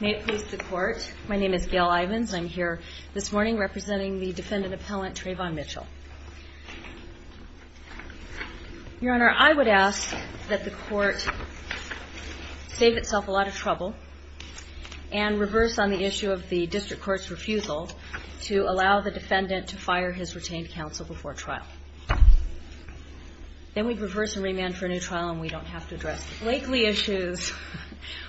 May it please the Court, my name is Gail Ivins. I'm here this morning representing the defendant appellant Trayvon Mitchell. Your Honor, I would ask that the Court save itself a lot of trouble and reverse on the issue of the District Court's refusal to allow the defendant to fire his retained counsel before trial. Then we'd reverse and remand for a new trial and we don't have to address the Blakeley issues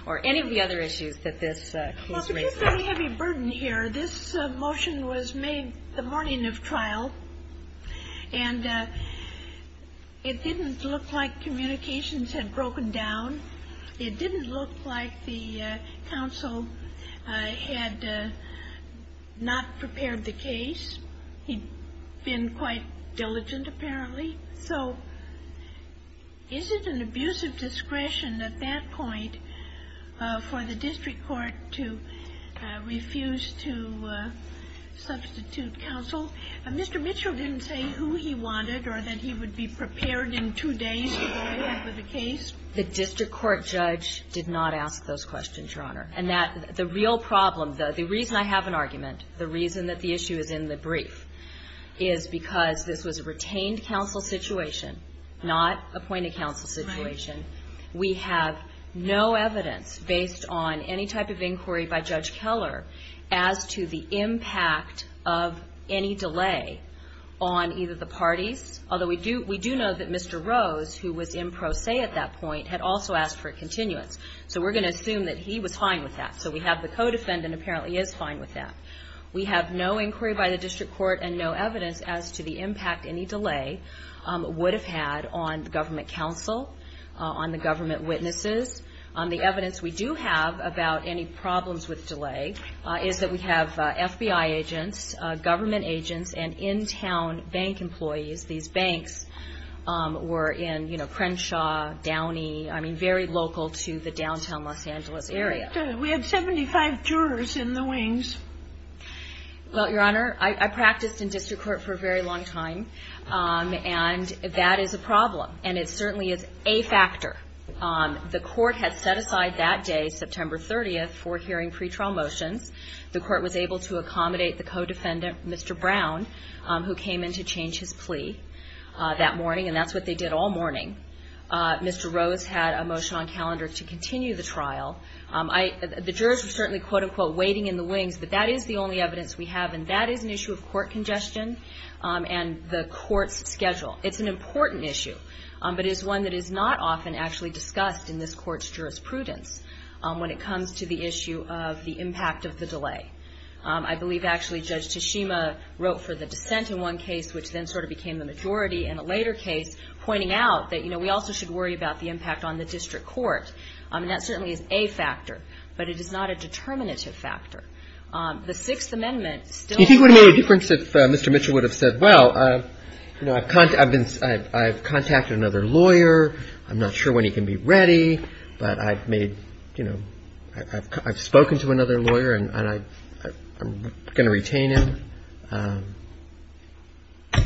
or any of the other issues that this case raises. Well, there's a heavy burden here. This motion was made the morning of trial and it didn't look like communications had broken down. It didn't look like the counsel had not prepared the case. He'd been quite diligent, apparently. So is it an abuse of discretion at that point for the District Court to refuse to substitute counsel? Mr. Mitchell didn't say who he wanted or that he would be prepared in two days to go ahead with the case. The District Court judge did not ask those questions, Your Honor. And that the real problem The reason I have an argument, the reason that the issue is in the brief, is because this was a retained counsel situation, not appointed counsel situation. We have no evidence based on any type of inquiry by Judge Keller as to the impact of any delay on either the parties, although we do know that Mr. Rose, who was in pro se at that point, had also asked for a continuance. So we're going to assume that he was fine with that. So we have a co-defendant apparently is fine with that. We have no inquiry by the District Court and no evidence as to the impact any delay would have had on the government counsel, on the government witnesses. The evidence we do have about any problems with delay is that we have FBI agents, government agents, and in-town bank employees. These banks were in, you know, Crenshaw, Downey, I mean, very local to the downtown Los Angeles area. But we have 75 jurors in the wings. Well, Your Honor, I practiced in district court for a very long time. And that is a problem. And it certainly is a factor. The Court had set aside that day, September 30th, for hearing pretrial motions. The Court was able to accommodate the co-defendant, Mr. Brown, who came in to change his plea that morning. And that's what they did all morning. Mr. Rose had a motion on calendar to continue the trial. The jurors were certainly, quote, unquote, waiting in the wings. But that is the only evidence we have. And that is an issue of court congestion and the Court's schedule. It's an important issue, but it's one that is not often actually discussed in this Court's jurisprudence when it comes to the issue of the impact of the delay. I believe actually Judge Tashima wrote for the dissent in one case, which then sort of pointed out that, you know, we also should worry about the impact on the district court. And that certainly is a factor. But it is not a determinative factor. The Sixth Amendment still — Do you think it would have made a difference if Mr. Mitchell would have said, well, you know, I've contacted another lawyer. I'm not sure when he can be ready. But I've made — you know, I've spoken to another lawyer, and I'm going to retain him.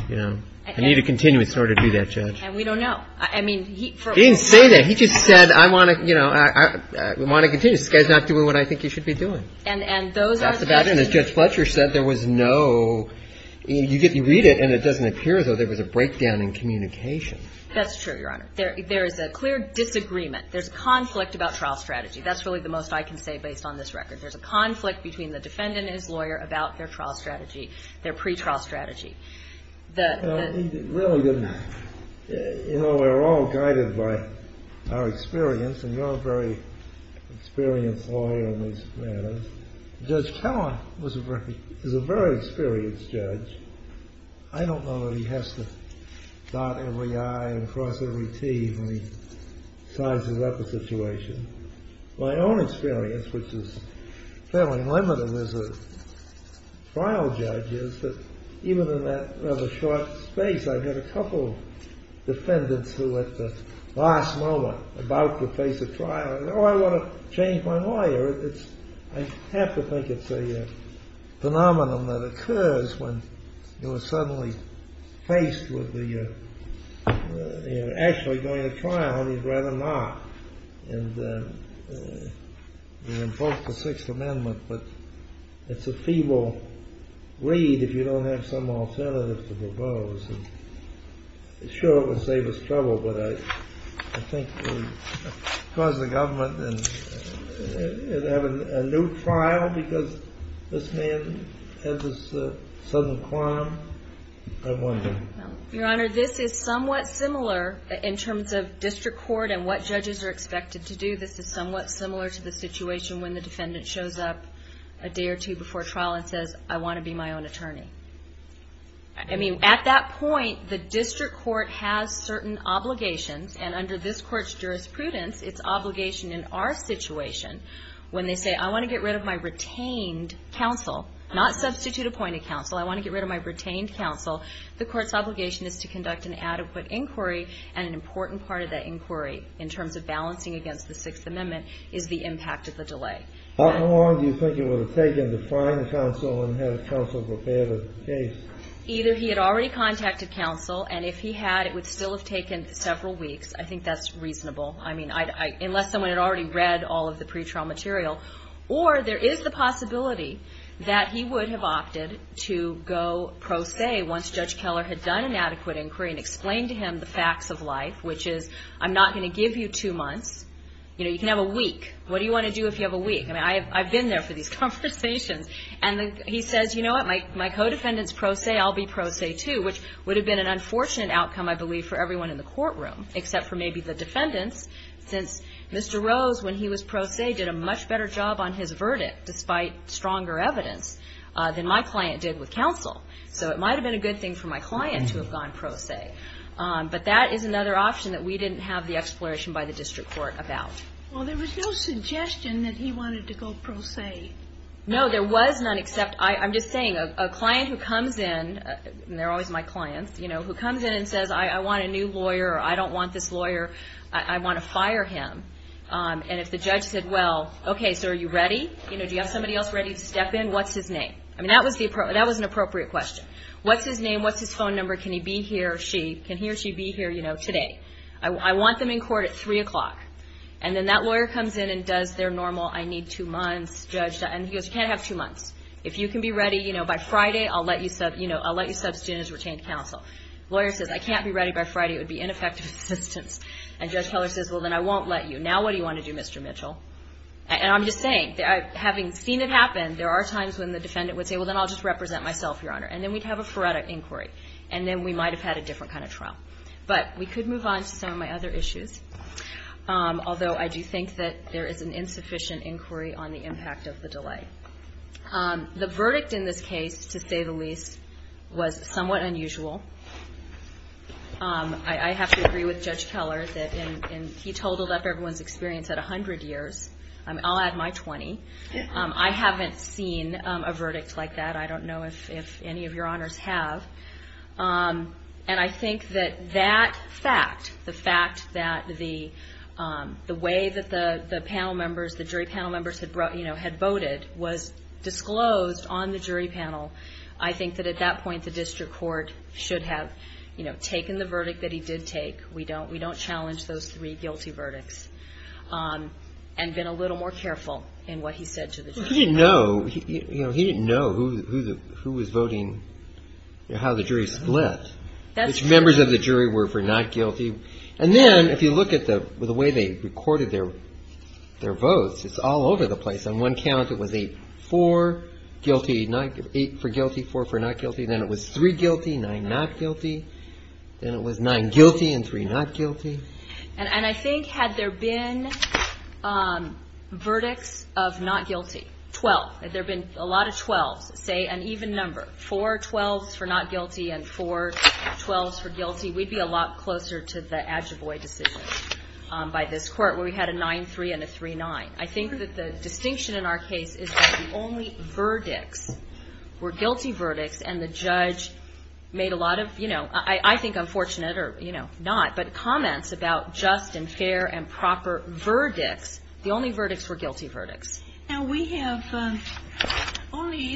You know, I need to continue in order to do that, Judge. And we don't know. I mean, he — He didn't say that. He just said, I want to — you know, I want to continue. This guy's not doing what I think he should be doing. And those are the — That's about it. And as Judge Fletcher said, there was no — you read it, and it doesn't appear, though, there was a breakdown in communication. That's true, Your Honor. There is a clear disagreement. There's a conflict about trial strategy. That's really the most I can say based on this record. There's a conflict between the defendant and his lawyer about their trial strategy, their pretrial strategy. The — He really didn't — you know, we're all guided by our experience, and you're a very experienced lawyer in these matters. Judge Keller was a very — is a very experienced judge. I don't know that he has to dot every I and cross every T when he sizes up a situation. My own experience, which is fairly limited as a trial judge, is that even in that rather short space, I've had a couple defendants who at the last moment, about to face a trial, and, oh, I want to change my lawyer. It's — I have to think it's a phenomenon that occurs when you're suddenly faced with the — you're actually going to trial, and you'd rather not. And you invoke the Sixth Amendment, but it's a feeble read if you don't have some alternative to propose. And sure, it would save us trouble, but I think it would cause the government to have a new trial because this man has this sudden climb. I wonder. Your Honor, this is somewhat similar in terms of district court and what judges are expected to do. This is somewhat similar to the situation when the defendant shows up a day or two before the trial and says, I want to be my own attorney. I mean, at that point, the district court has certain obligations, and under this court's jurisprudence, it's obligation in our situation when they say, I want to get rid of my retained counsel, not substitute appointed counsel. I want to get rid of my retained counsel. The court's obligation is to conduct an adequate inquiry, and an important part of that inquiry in terms of balancing against the Sixth Amendment is the impact of the delay. How long do you think it would have taken to find counsel and have counsel prepare the case? Either he had already contacted counsel, and if he had, it would still have taken several weeks. I think that's reasonable. I mean, unless someone had already read all of the pretrial material. Or there is the possibility that he would have opted to go pro se once Judge Keller had done an adequate inquiry and explained to him the facts of life, which is, I'm not going to give you two months. You can have a week. What do you want to do if you have a week? I mean, I've been there for these conversations. And he says, you know what, my co-defendant's pro se, I'll be pro se, too, which would have been an unfortunate outcome, I believe, for everyone in the courtroom, except for maybe the defendants, since Mr. Rose, when he was pro se, did a much better job on his verdict, despite stronger evidence, than my client did with counsel. So it might have been a good thing for my client to have gone pro se. But that is another option that we didn't have the exploration by the district court about. Well, there was no suggestion that he wanted to go pro se. No, there was none, except, I'm just saying, a client who comes in, and they're always my clients, you know, who comes in and says, I want a new lawyer, or I don't want this lawyer, I want to fire him. And if the judge said, well, okay, so are you ready? You know, do you have somebody else ready to step in? What's his name? I mean, that was an appropriate question. What's his name? What's his phone number? Can he be here? Can he or she be here, you know, today? I want them in court at 3 o'clock. And then that lawyer comes in and does their normal, I need two months, judge, and he goes, you can't have two months. If you can be ready, you know, by Friday, I'll let you sub, you know, I'll let you substitute as retained counsel. Lawyer says, I can't be ready by Friday. It would be ineffective assistance. And Judge Keller says, well, then I won't let you. Now what do you want to do, Mr. Mitchell? And I'm just saying, having seen it happen, there are times when the defendant would say, well, then I'll just represent myself, Your Honor. And then we'd have a forensic inquiry. And then we might have had a different kind of trial. But we could move on to some of my other issues, although I do think that there is an insufficient inquiry on the impact of the delay. The verdict in this case, to say the least, was somewhat unusual. I have to agree with Judge Keller that he totaled up everyone's experience at 100 years. I'll add my 20. I haven't seen a verdict like that. I don't know if any of Your Honors have. And I think that that fact, the fact that the way that the panel members, the jury panel members had voted was disclosed on the jury panel, I think that at that point the district court should have, you know, taken the verdict that he did take. We don't challenge those three guilty verdicts. And been a little more careful in what he said to the jury. He didn't know who was voting, how the jury split. Which members of the jury were for not guilty. And then if you look at the way they recorded their votes, it's all over the place. On one count it was a four guilty, eight for guilty, four for not guilty. Then it was three guilty, nine not guilty. Then it was nine guilty and three not guilty. And I think had there been verdicts of not guilty, 12, had there been a lot of 12s, say an even number, four 12s for not guilty and four 12s for guilty, we'd be a lot closer to the Adjuboy decision by this court where we had a 9-3 and a 3-9. I think that the distinction in our case is that the only verdicts were guilty verdicts and the judge made a lot of, you know, I think unfortunate or, you know, not, but comments about just and fair and proper verdicts, the only verdicts were guilty. The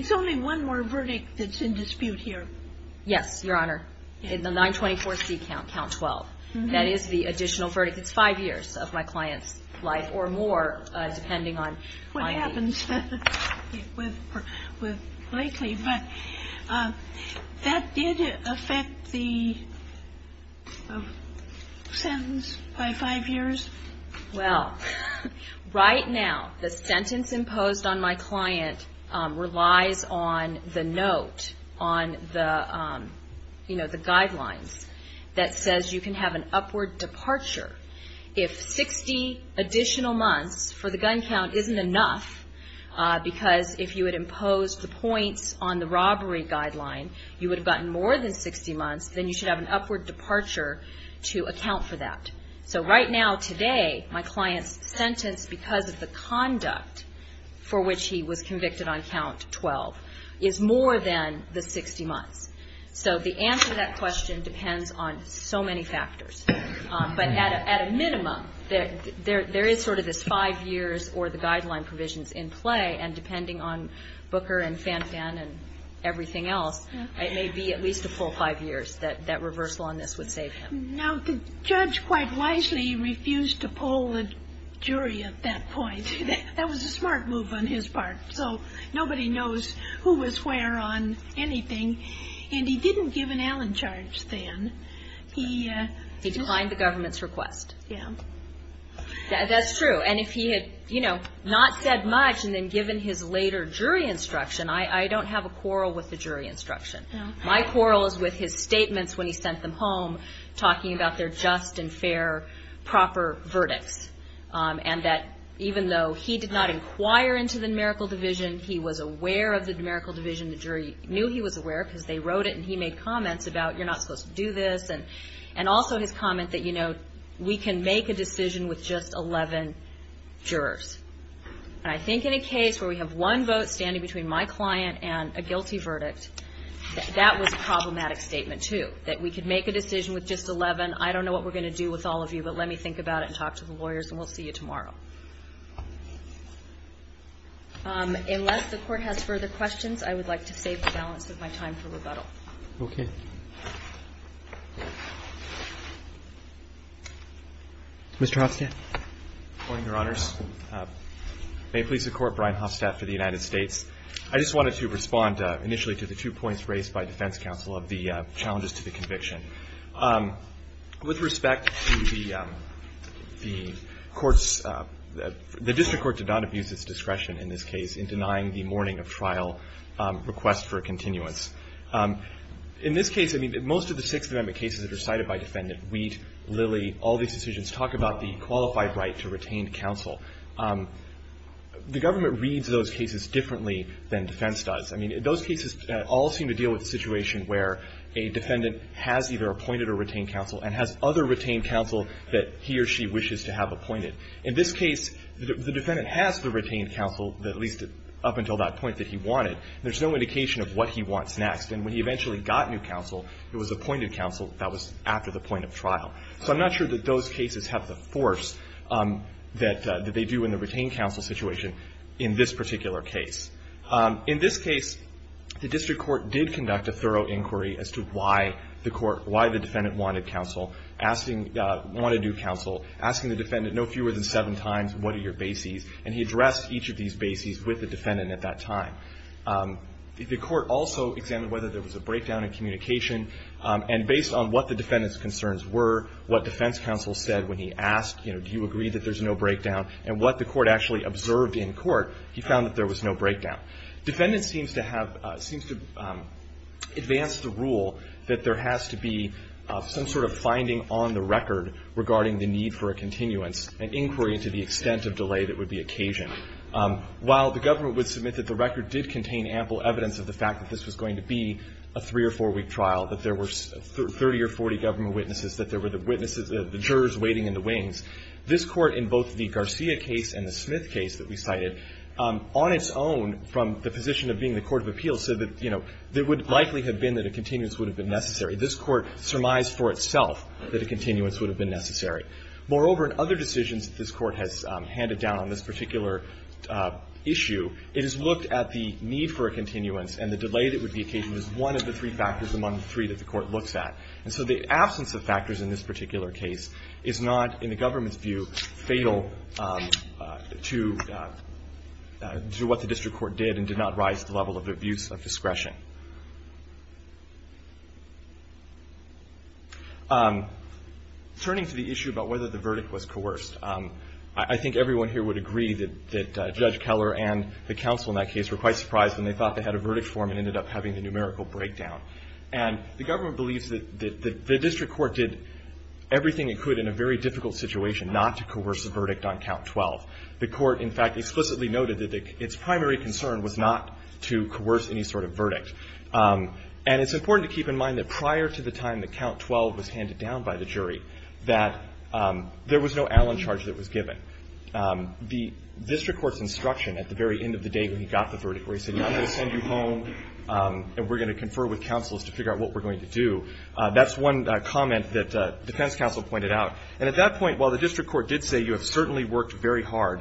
only one more verdict that's in dispute here. Yes, Your Honor. The 924C count, count 12. That is the additional verdict. It's five years of my client's life or more, depending on. What happens with Blakely. That did affect the sentence by five years? Well, right now the sentence imposed on my client relies on the note on the, you know, the guidelines that says you can have an upward departure if 60 additional months for the gun count isn't enough because if you had imposed the points on the robbery guideline, you would have gotten more than 60 months, then you should have an upward departure to account for that. So right now, today, my client's sentence because of the conduct for which he was convicted on count 12 is more than the 60 months. So the answer to that question depends on so many factors. But at a minimum, there is sort of this five years or the guideline provisions in play. And depending on Booker and Fanfan and everything else, it may be at least a full five years that that reversal on this would save him. Now, the judge quite wisely refused to poll the jury at that point. That was a smart move on his part. So nobody knows who was where on anything. And he didn't give an Allen charge then. He declined the government's request. That's true. And if he had, you know, not said much and then given his later jury instruction, I don't have a quarrel with the jury instruction. My quarrel is with his statements when he sent them home talking about their just and fair, proper verdicts. And that even though he did not inquire into the numerical division, he was aware of the numerical division. And he said, you know, we can make a decision with just 11 jurors. And I think in a case where we have one vote standing between my client and a guilty verdict, that was a problematic statement, too, that we could make a decision with just 11. I don't know what we're going to do with all of you, but let me think about it and talk to the lawyers, and we'll see you tomorrow. Unless the Court has further questions, I would like to save the balance of my time for rebuttal. Okay. Mr. Hofstadt. Good morning, Your Honors. May it please the Court, Brian Hofstadt for the United States. I just wanted to respond initially to the two points raised by defense counsel of the challenges to the conviction. With respect to the courts, the district court did not abuse its discretion in this case in denying the morning of trial request for continuance. In this case, I mean, most of the Sixth Amendment cases that are cited by defendant, Wheat, Lilly, all these decisions talk about the qualified right to retain counsel. The government reads those cases differently than defense does. I mean, those cases all seem to deal with a situation where a defendant has either appointed or retained counsel and has other retained counsel that he or she wishes to have appointed. In this case, the defendant has the retained counsel, at least up until that point, that he wanted, and there's no indication of what he wants next. And when he eventually got new counsel, it was appointed counsel that was after the point of trial. So I'm not sure that those cases have the force that they do in the retained counsel situation in this particular case. In this case, the district court did conduct a thorough inquiry as to why the defendant wanted new counsel, asking the defendant no fewer than seven times, what are your bases? And he addressed each of these bases with the defendant at that time. The court also examined whether there was a breakdown in communication. And based on what the defendant's concerns were, what defense counsel said when he asked, you know, do you agree that there's no breakdown, and what the court actually observed in court, he found that there was no breakdown. Defendant seems to have, seems to advance the rule that there has to be some sort of finding on the record regarding the need for a continuance, an inquiry into the extent of delay that would be occasioned. While the government would submit that the record did contain ample evidence of the fact that this was going to be a three- or four-week trial, that there were 30 or 40 government witnesses, that there were the witnesses, the jurors waiting in the wings, this Court in both the Garcia case and the Smith case that we cited, on its own, from the position of being the court of appeal, said that, you know, there would likely have been that a continuance would have been necessary. This Court surmised for itself that a continuance would have been necessary. Moreover, in other decisions that this Court has handed down on this particular issue, it has looked at the need for a continuance and the delay that would be occasioned as one of the three factors among the three that the Court looks at. And so the absence of factors in this particular case is not, in the government's view, fatal to what the district court did and did not rise to the level of abuse of discretion. Turning to the issue about whether the verdict was coerced, I think everyone here would agree that Judge Keller and the counsel in that case were quite surprised when they thought they had a verdict form and ended up having the numerical breakdown. And the government believes that the district court did everything it could in a very difficult situation not to coerce a verdict on count 12. The court, in fact, explicitly noted that its primary concern was not to coerce any sort of verdict. And it's important to keep in mind that prior to the time that count 12 was handed down by the jury, that there was no Allen charge that was given. The district court's instruction at the very end of the day when he got the verdict where he said, I'm going to send you home and we're going to confer with counsels to figure out what we're going to do, that's one comment that defense counsel pointed out. And at that point, while the district court did say you have certainly worked very fair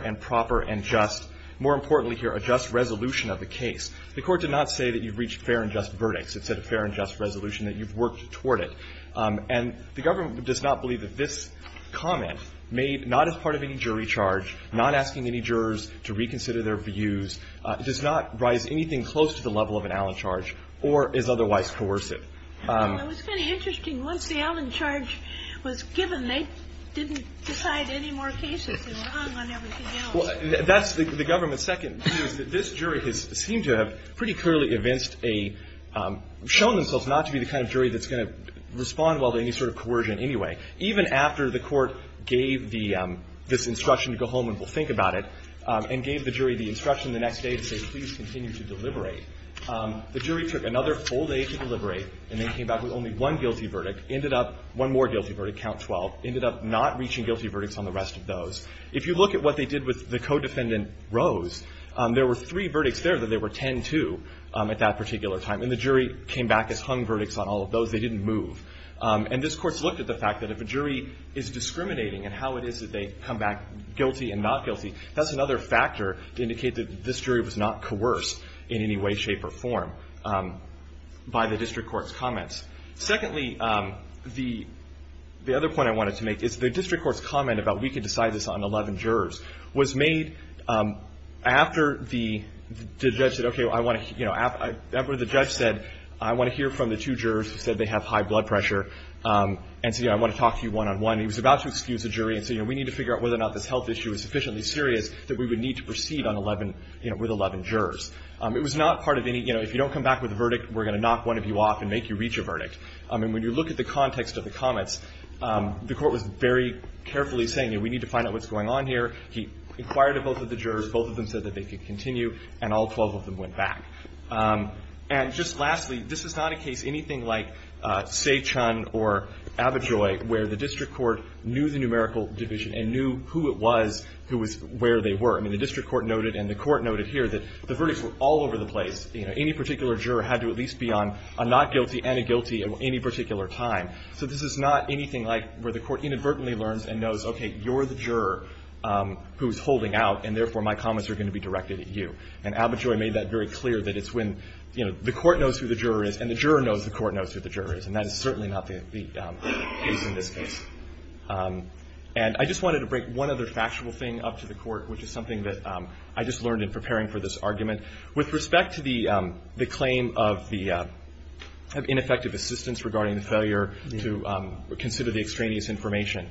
and proper and just, more importantly here, a just resolution of the case, the court did not say that you've reached fair and just verdicts. It said a fair and just resolution, that you've worked toward it. And the government does not believe that this comment made not as part of any jury charge, not asking any jurors to reconsider their views, does not rise anything close to the level of an Allen charge or is otherwise coercive. It was kind of interesting. Once the Allen charge was given, they didn't decide any more cases. They were hung on everything else. Well, that's the government's second view, is that this jury has seemed to have pretty clearly evinced a, shown themselves not to be the kind of jury that's going to respond well to any sort of coercion anyway. Even after the court gave the, this instruction to go home and we'll think about it, and gave the jury the instruction the next day to say, please continue to deliberate, the jury took another full day to deliberate and then came back with only one guilty verdict, ended up, one more guilty verdict, count 12, ended up not reaching guilty verdicts on the rest of those. If you look at what they did with the co-defendant Rose, there were three verdicts there that they were 10-2 at that particular time. And the jury came back as hung verdicts on all of those. They didn't move. And this Court's looked at the fact that if a jury is discriminating and how it is that they come back guilty and not guilty, that's another factor to indicate that this jury was not coerced in any way, shape or form by the district court's comments. Secondly, the other point I wanted to make is the district court's comment about we can decide this on 11 jurors was made after the judge said, okay, I want to, you know, after the judge said, I want to hear from the two jurors who said they have high blood pressure, and so, you know, I want to talk to you one-on-one. He was about to excuse the jury and say, you know, we need to figure out whether or not this health issue is sufficiently serious that we would need to proceed on 11, you know, with 11 jurors. It was not part of any, you know, if you don't come back with a verdict, we're not going to knock one of you off and make you reach a verdict. I mean, when you look at the context of the comments, the Court was very carefully saying, you know, we need to find out what's going on here. He inquired of both of the jurors. Both of them said that they could continue, and all 12 of them went back. And just lastly, this is not a case, anything like Sae Chun or Abitroy, where the district court knew the numerical division and knew who it was who was where they were. I mean, the district court noted and the Court noted here that the verdicts were all over the place. You know, any particular juror had to at least be on a not guilty and a guilty at any particular time. So this is not anything like where the Court inadvertently learns and knows, okay, you're the juror who's holding out, and therefore, my comments are going to be directed at you. And Abitroy made that very clear, that it's when, you know, the Court knows who the juror is and the juror knows the Court knows who the juror is, and that is certainly not the case in this case. And I just wanted to break one other factual thing up to the Court, which is something that I just learned in preparing for this argument. With respect to the claim of the ineffective assistance regarding the failure to consider the extraneous information,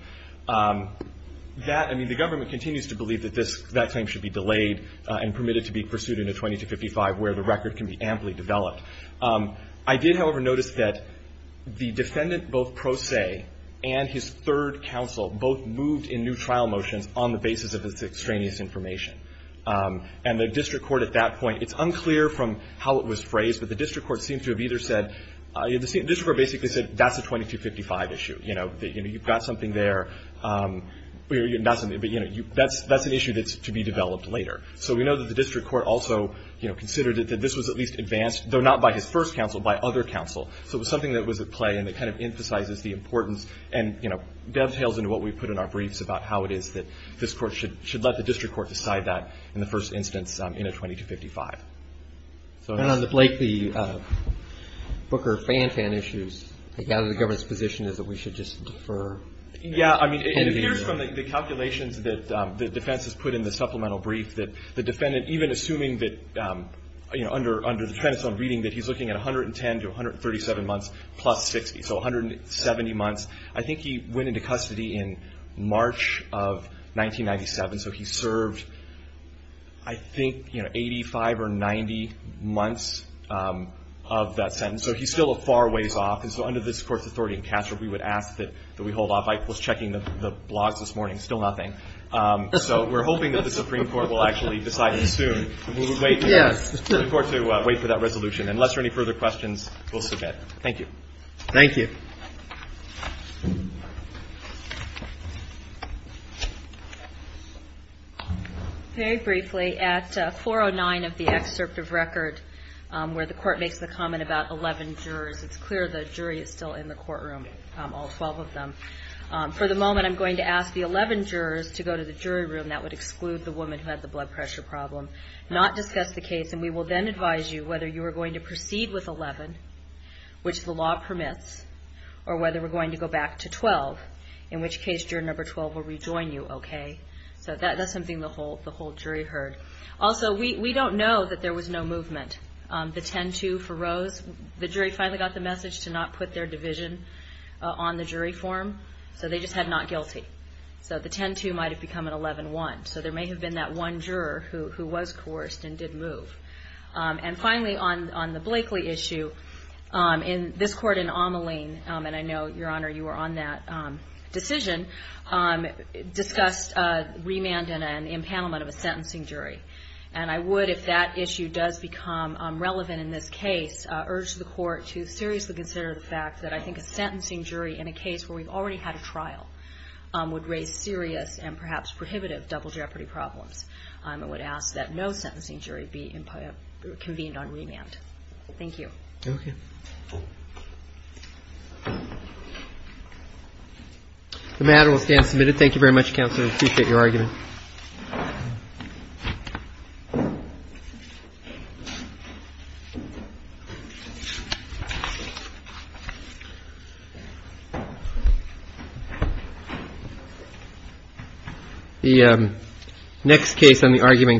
that, I mean, the government continues to believe that this, that claim should be delayed and permitted to be pursued in a 2255 where the record can be amply developed. I did, however, notice that the defendant, both Pro Se and his third counsel, both moved in new trial motions on the basis of this extraneous information. And the district court at that point, it's unclear from how it was phrased, but the district court seemed to have either said, the district court basically said that's a 2255 issue, you know, that, you know, you've got something there, that's an issue that's to be developed later. So we know that the district court also, you know, considered that this was at least advanced, though not by his first counsel, by other counsel. So it was something that was at play and that kind of emphasizes the importance and, you know, dovetails into what we put in our briefs about how it is that this should let the district court decide that in the first instance in a 2255. So next. And on the Blakely-Booker-Fan-Fan issues, I gather the government's position is that we should just defer. Yeah. I mean, it appears from the calculations that the defense has put in the supplemental brief that the defendant, even assuming that, you know, under the trend of reading that he's looking at 110 to 137 months plus 60, so 170 months. I think he went into custody in March of 1997. So he served, I think, you know, 85 or 90 months of that sentence. So he's still a far ways off. And so under this court's authority in Castro, we would ask that we hold off. I was checking the blogs this morning. Still nothing. So we're hoping that the Supreme Court will actually decide soon. We'll wait for the court to wait for that resolution. Unless there are any further questions, we'll submit. Thank you. Thank you. Thank you. Very briefly, at 409 of the excerpt of record where the court makes the comment about 11 jurors, it's clear the jury is still in the courtroom, all 12 of them. For the moment, I'm going to ask the 11 jurors to go to the jury room. That would exclude the woman who had the blood pressure problem, not discuss the case. And we will then advise you whether you are going to proceed with 11, which the law permits, or whether we're going to go back to 12, in which case juror number 12 will rejoin you, okay? So that's something the whole jury heard. Also, we don't know that there was no movement. The 10-2 for Rose, the jury finally got the message to not put their division on the jury form. So they just had not guilty. So the 10-2 might have become an 11-1. So there may have been that one juror who was coerced and did move. And finally, on the Blakely issue, this court in Ameline, and I know, Your Honor, you were on that decision, discussed remand and an impanelment of a sentencing jury. And I would, if that issue does become relevant in this case, urge the court to seriously consider the fact that I think a sentencing jury in a case where we've already had a trial would raise serious and perhaps prohibitive double jeopardy problems. I would ask that no sentencing jury be convened on remand. Thank you. Okay. The matter will stand submitted. Thank you very much, Counselor. I appreciate your argument.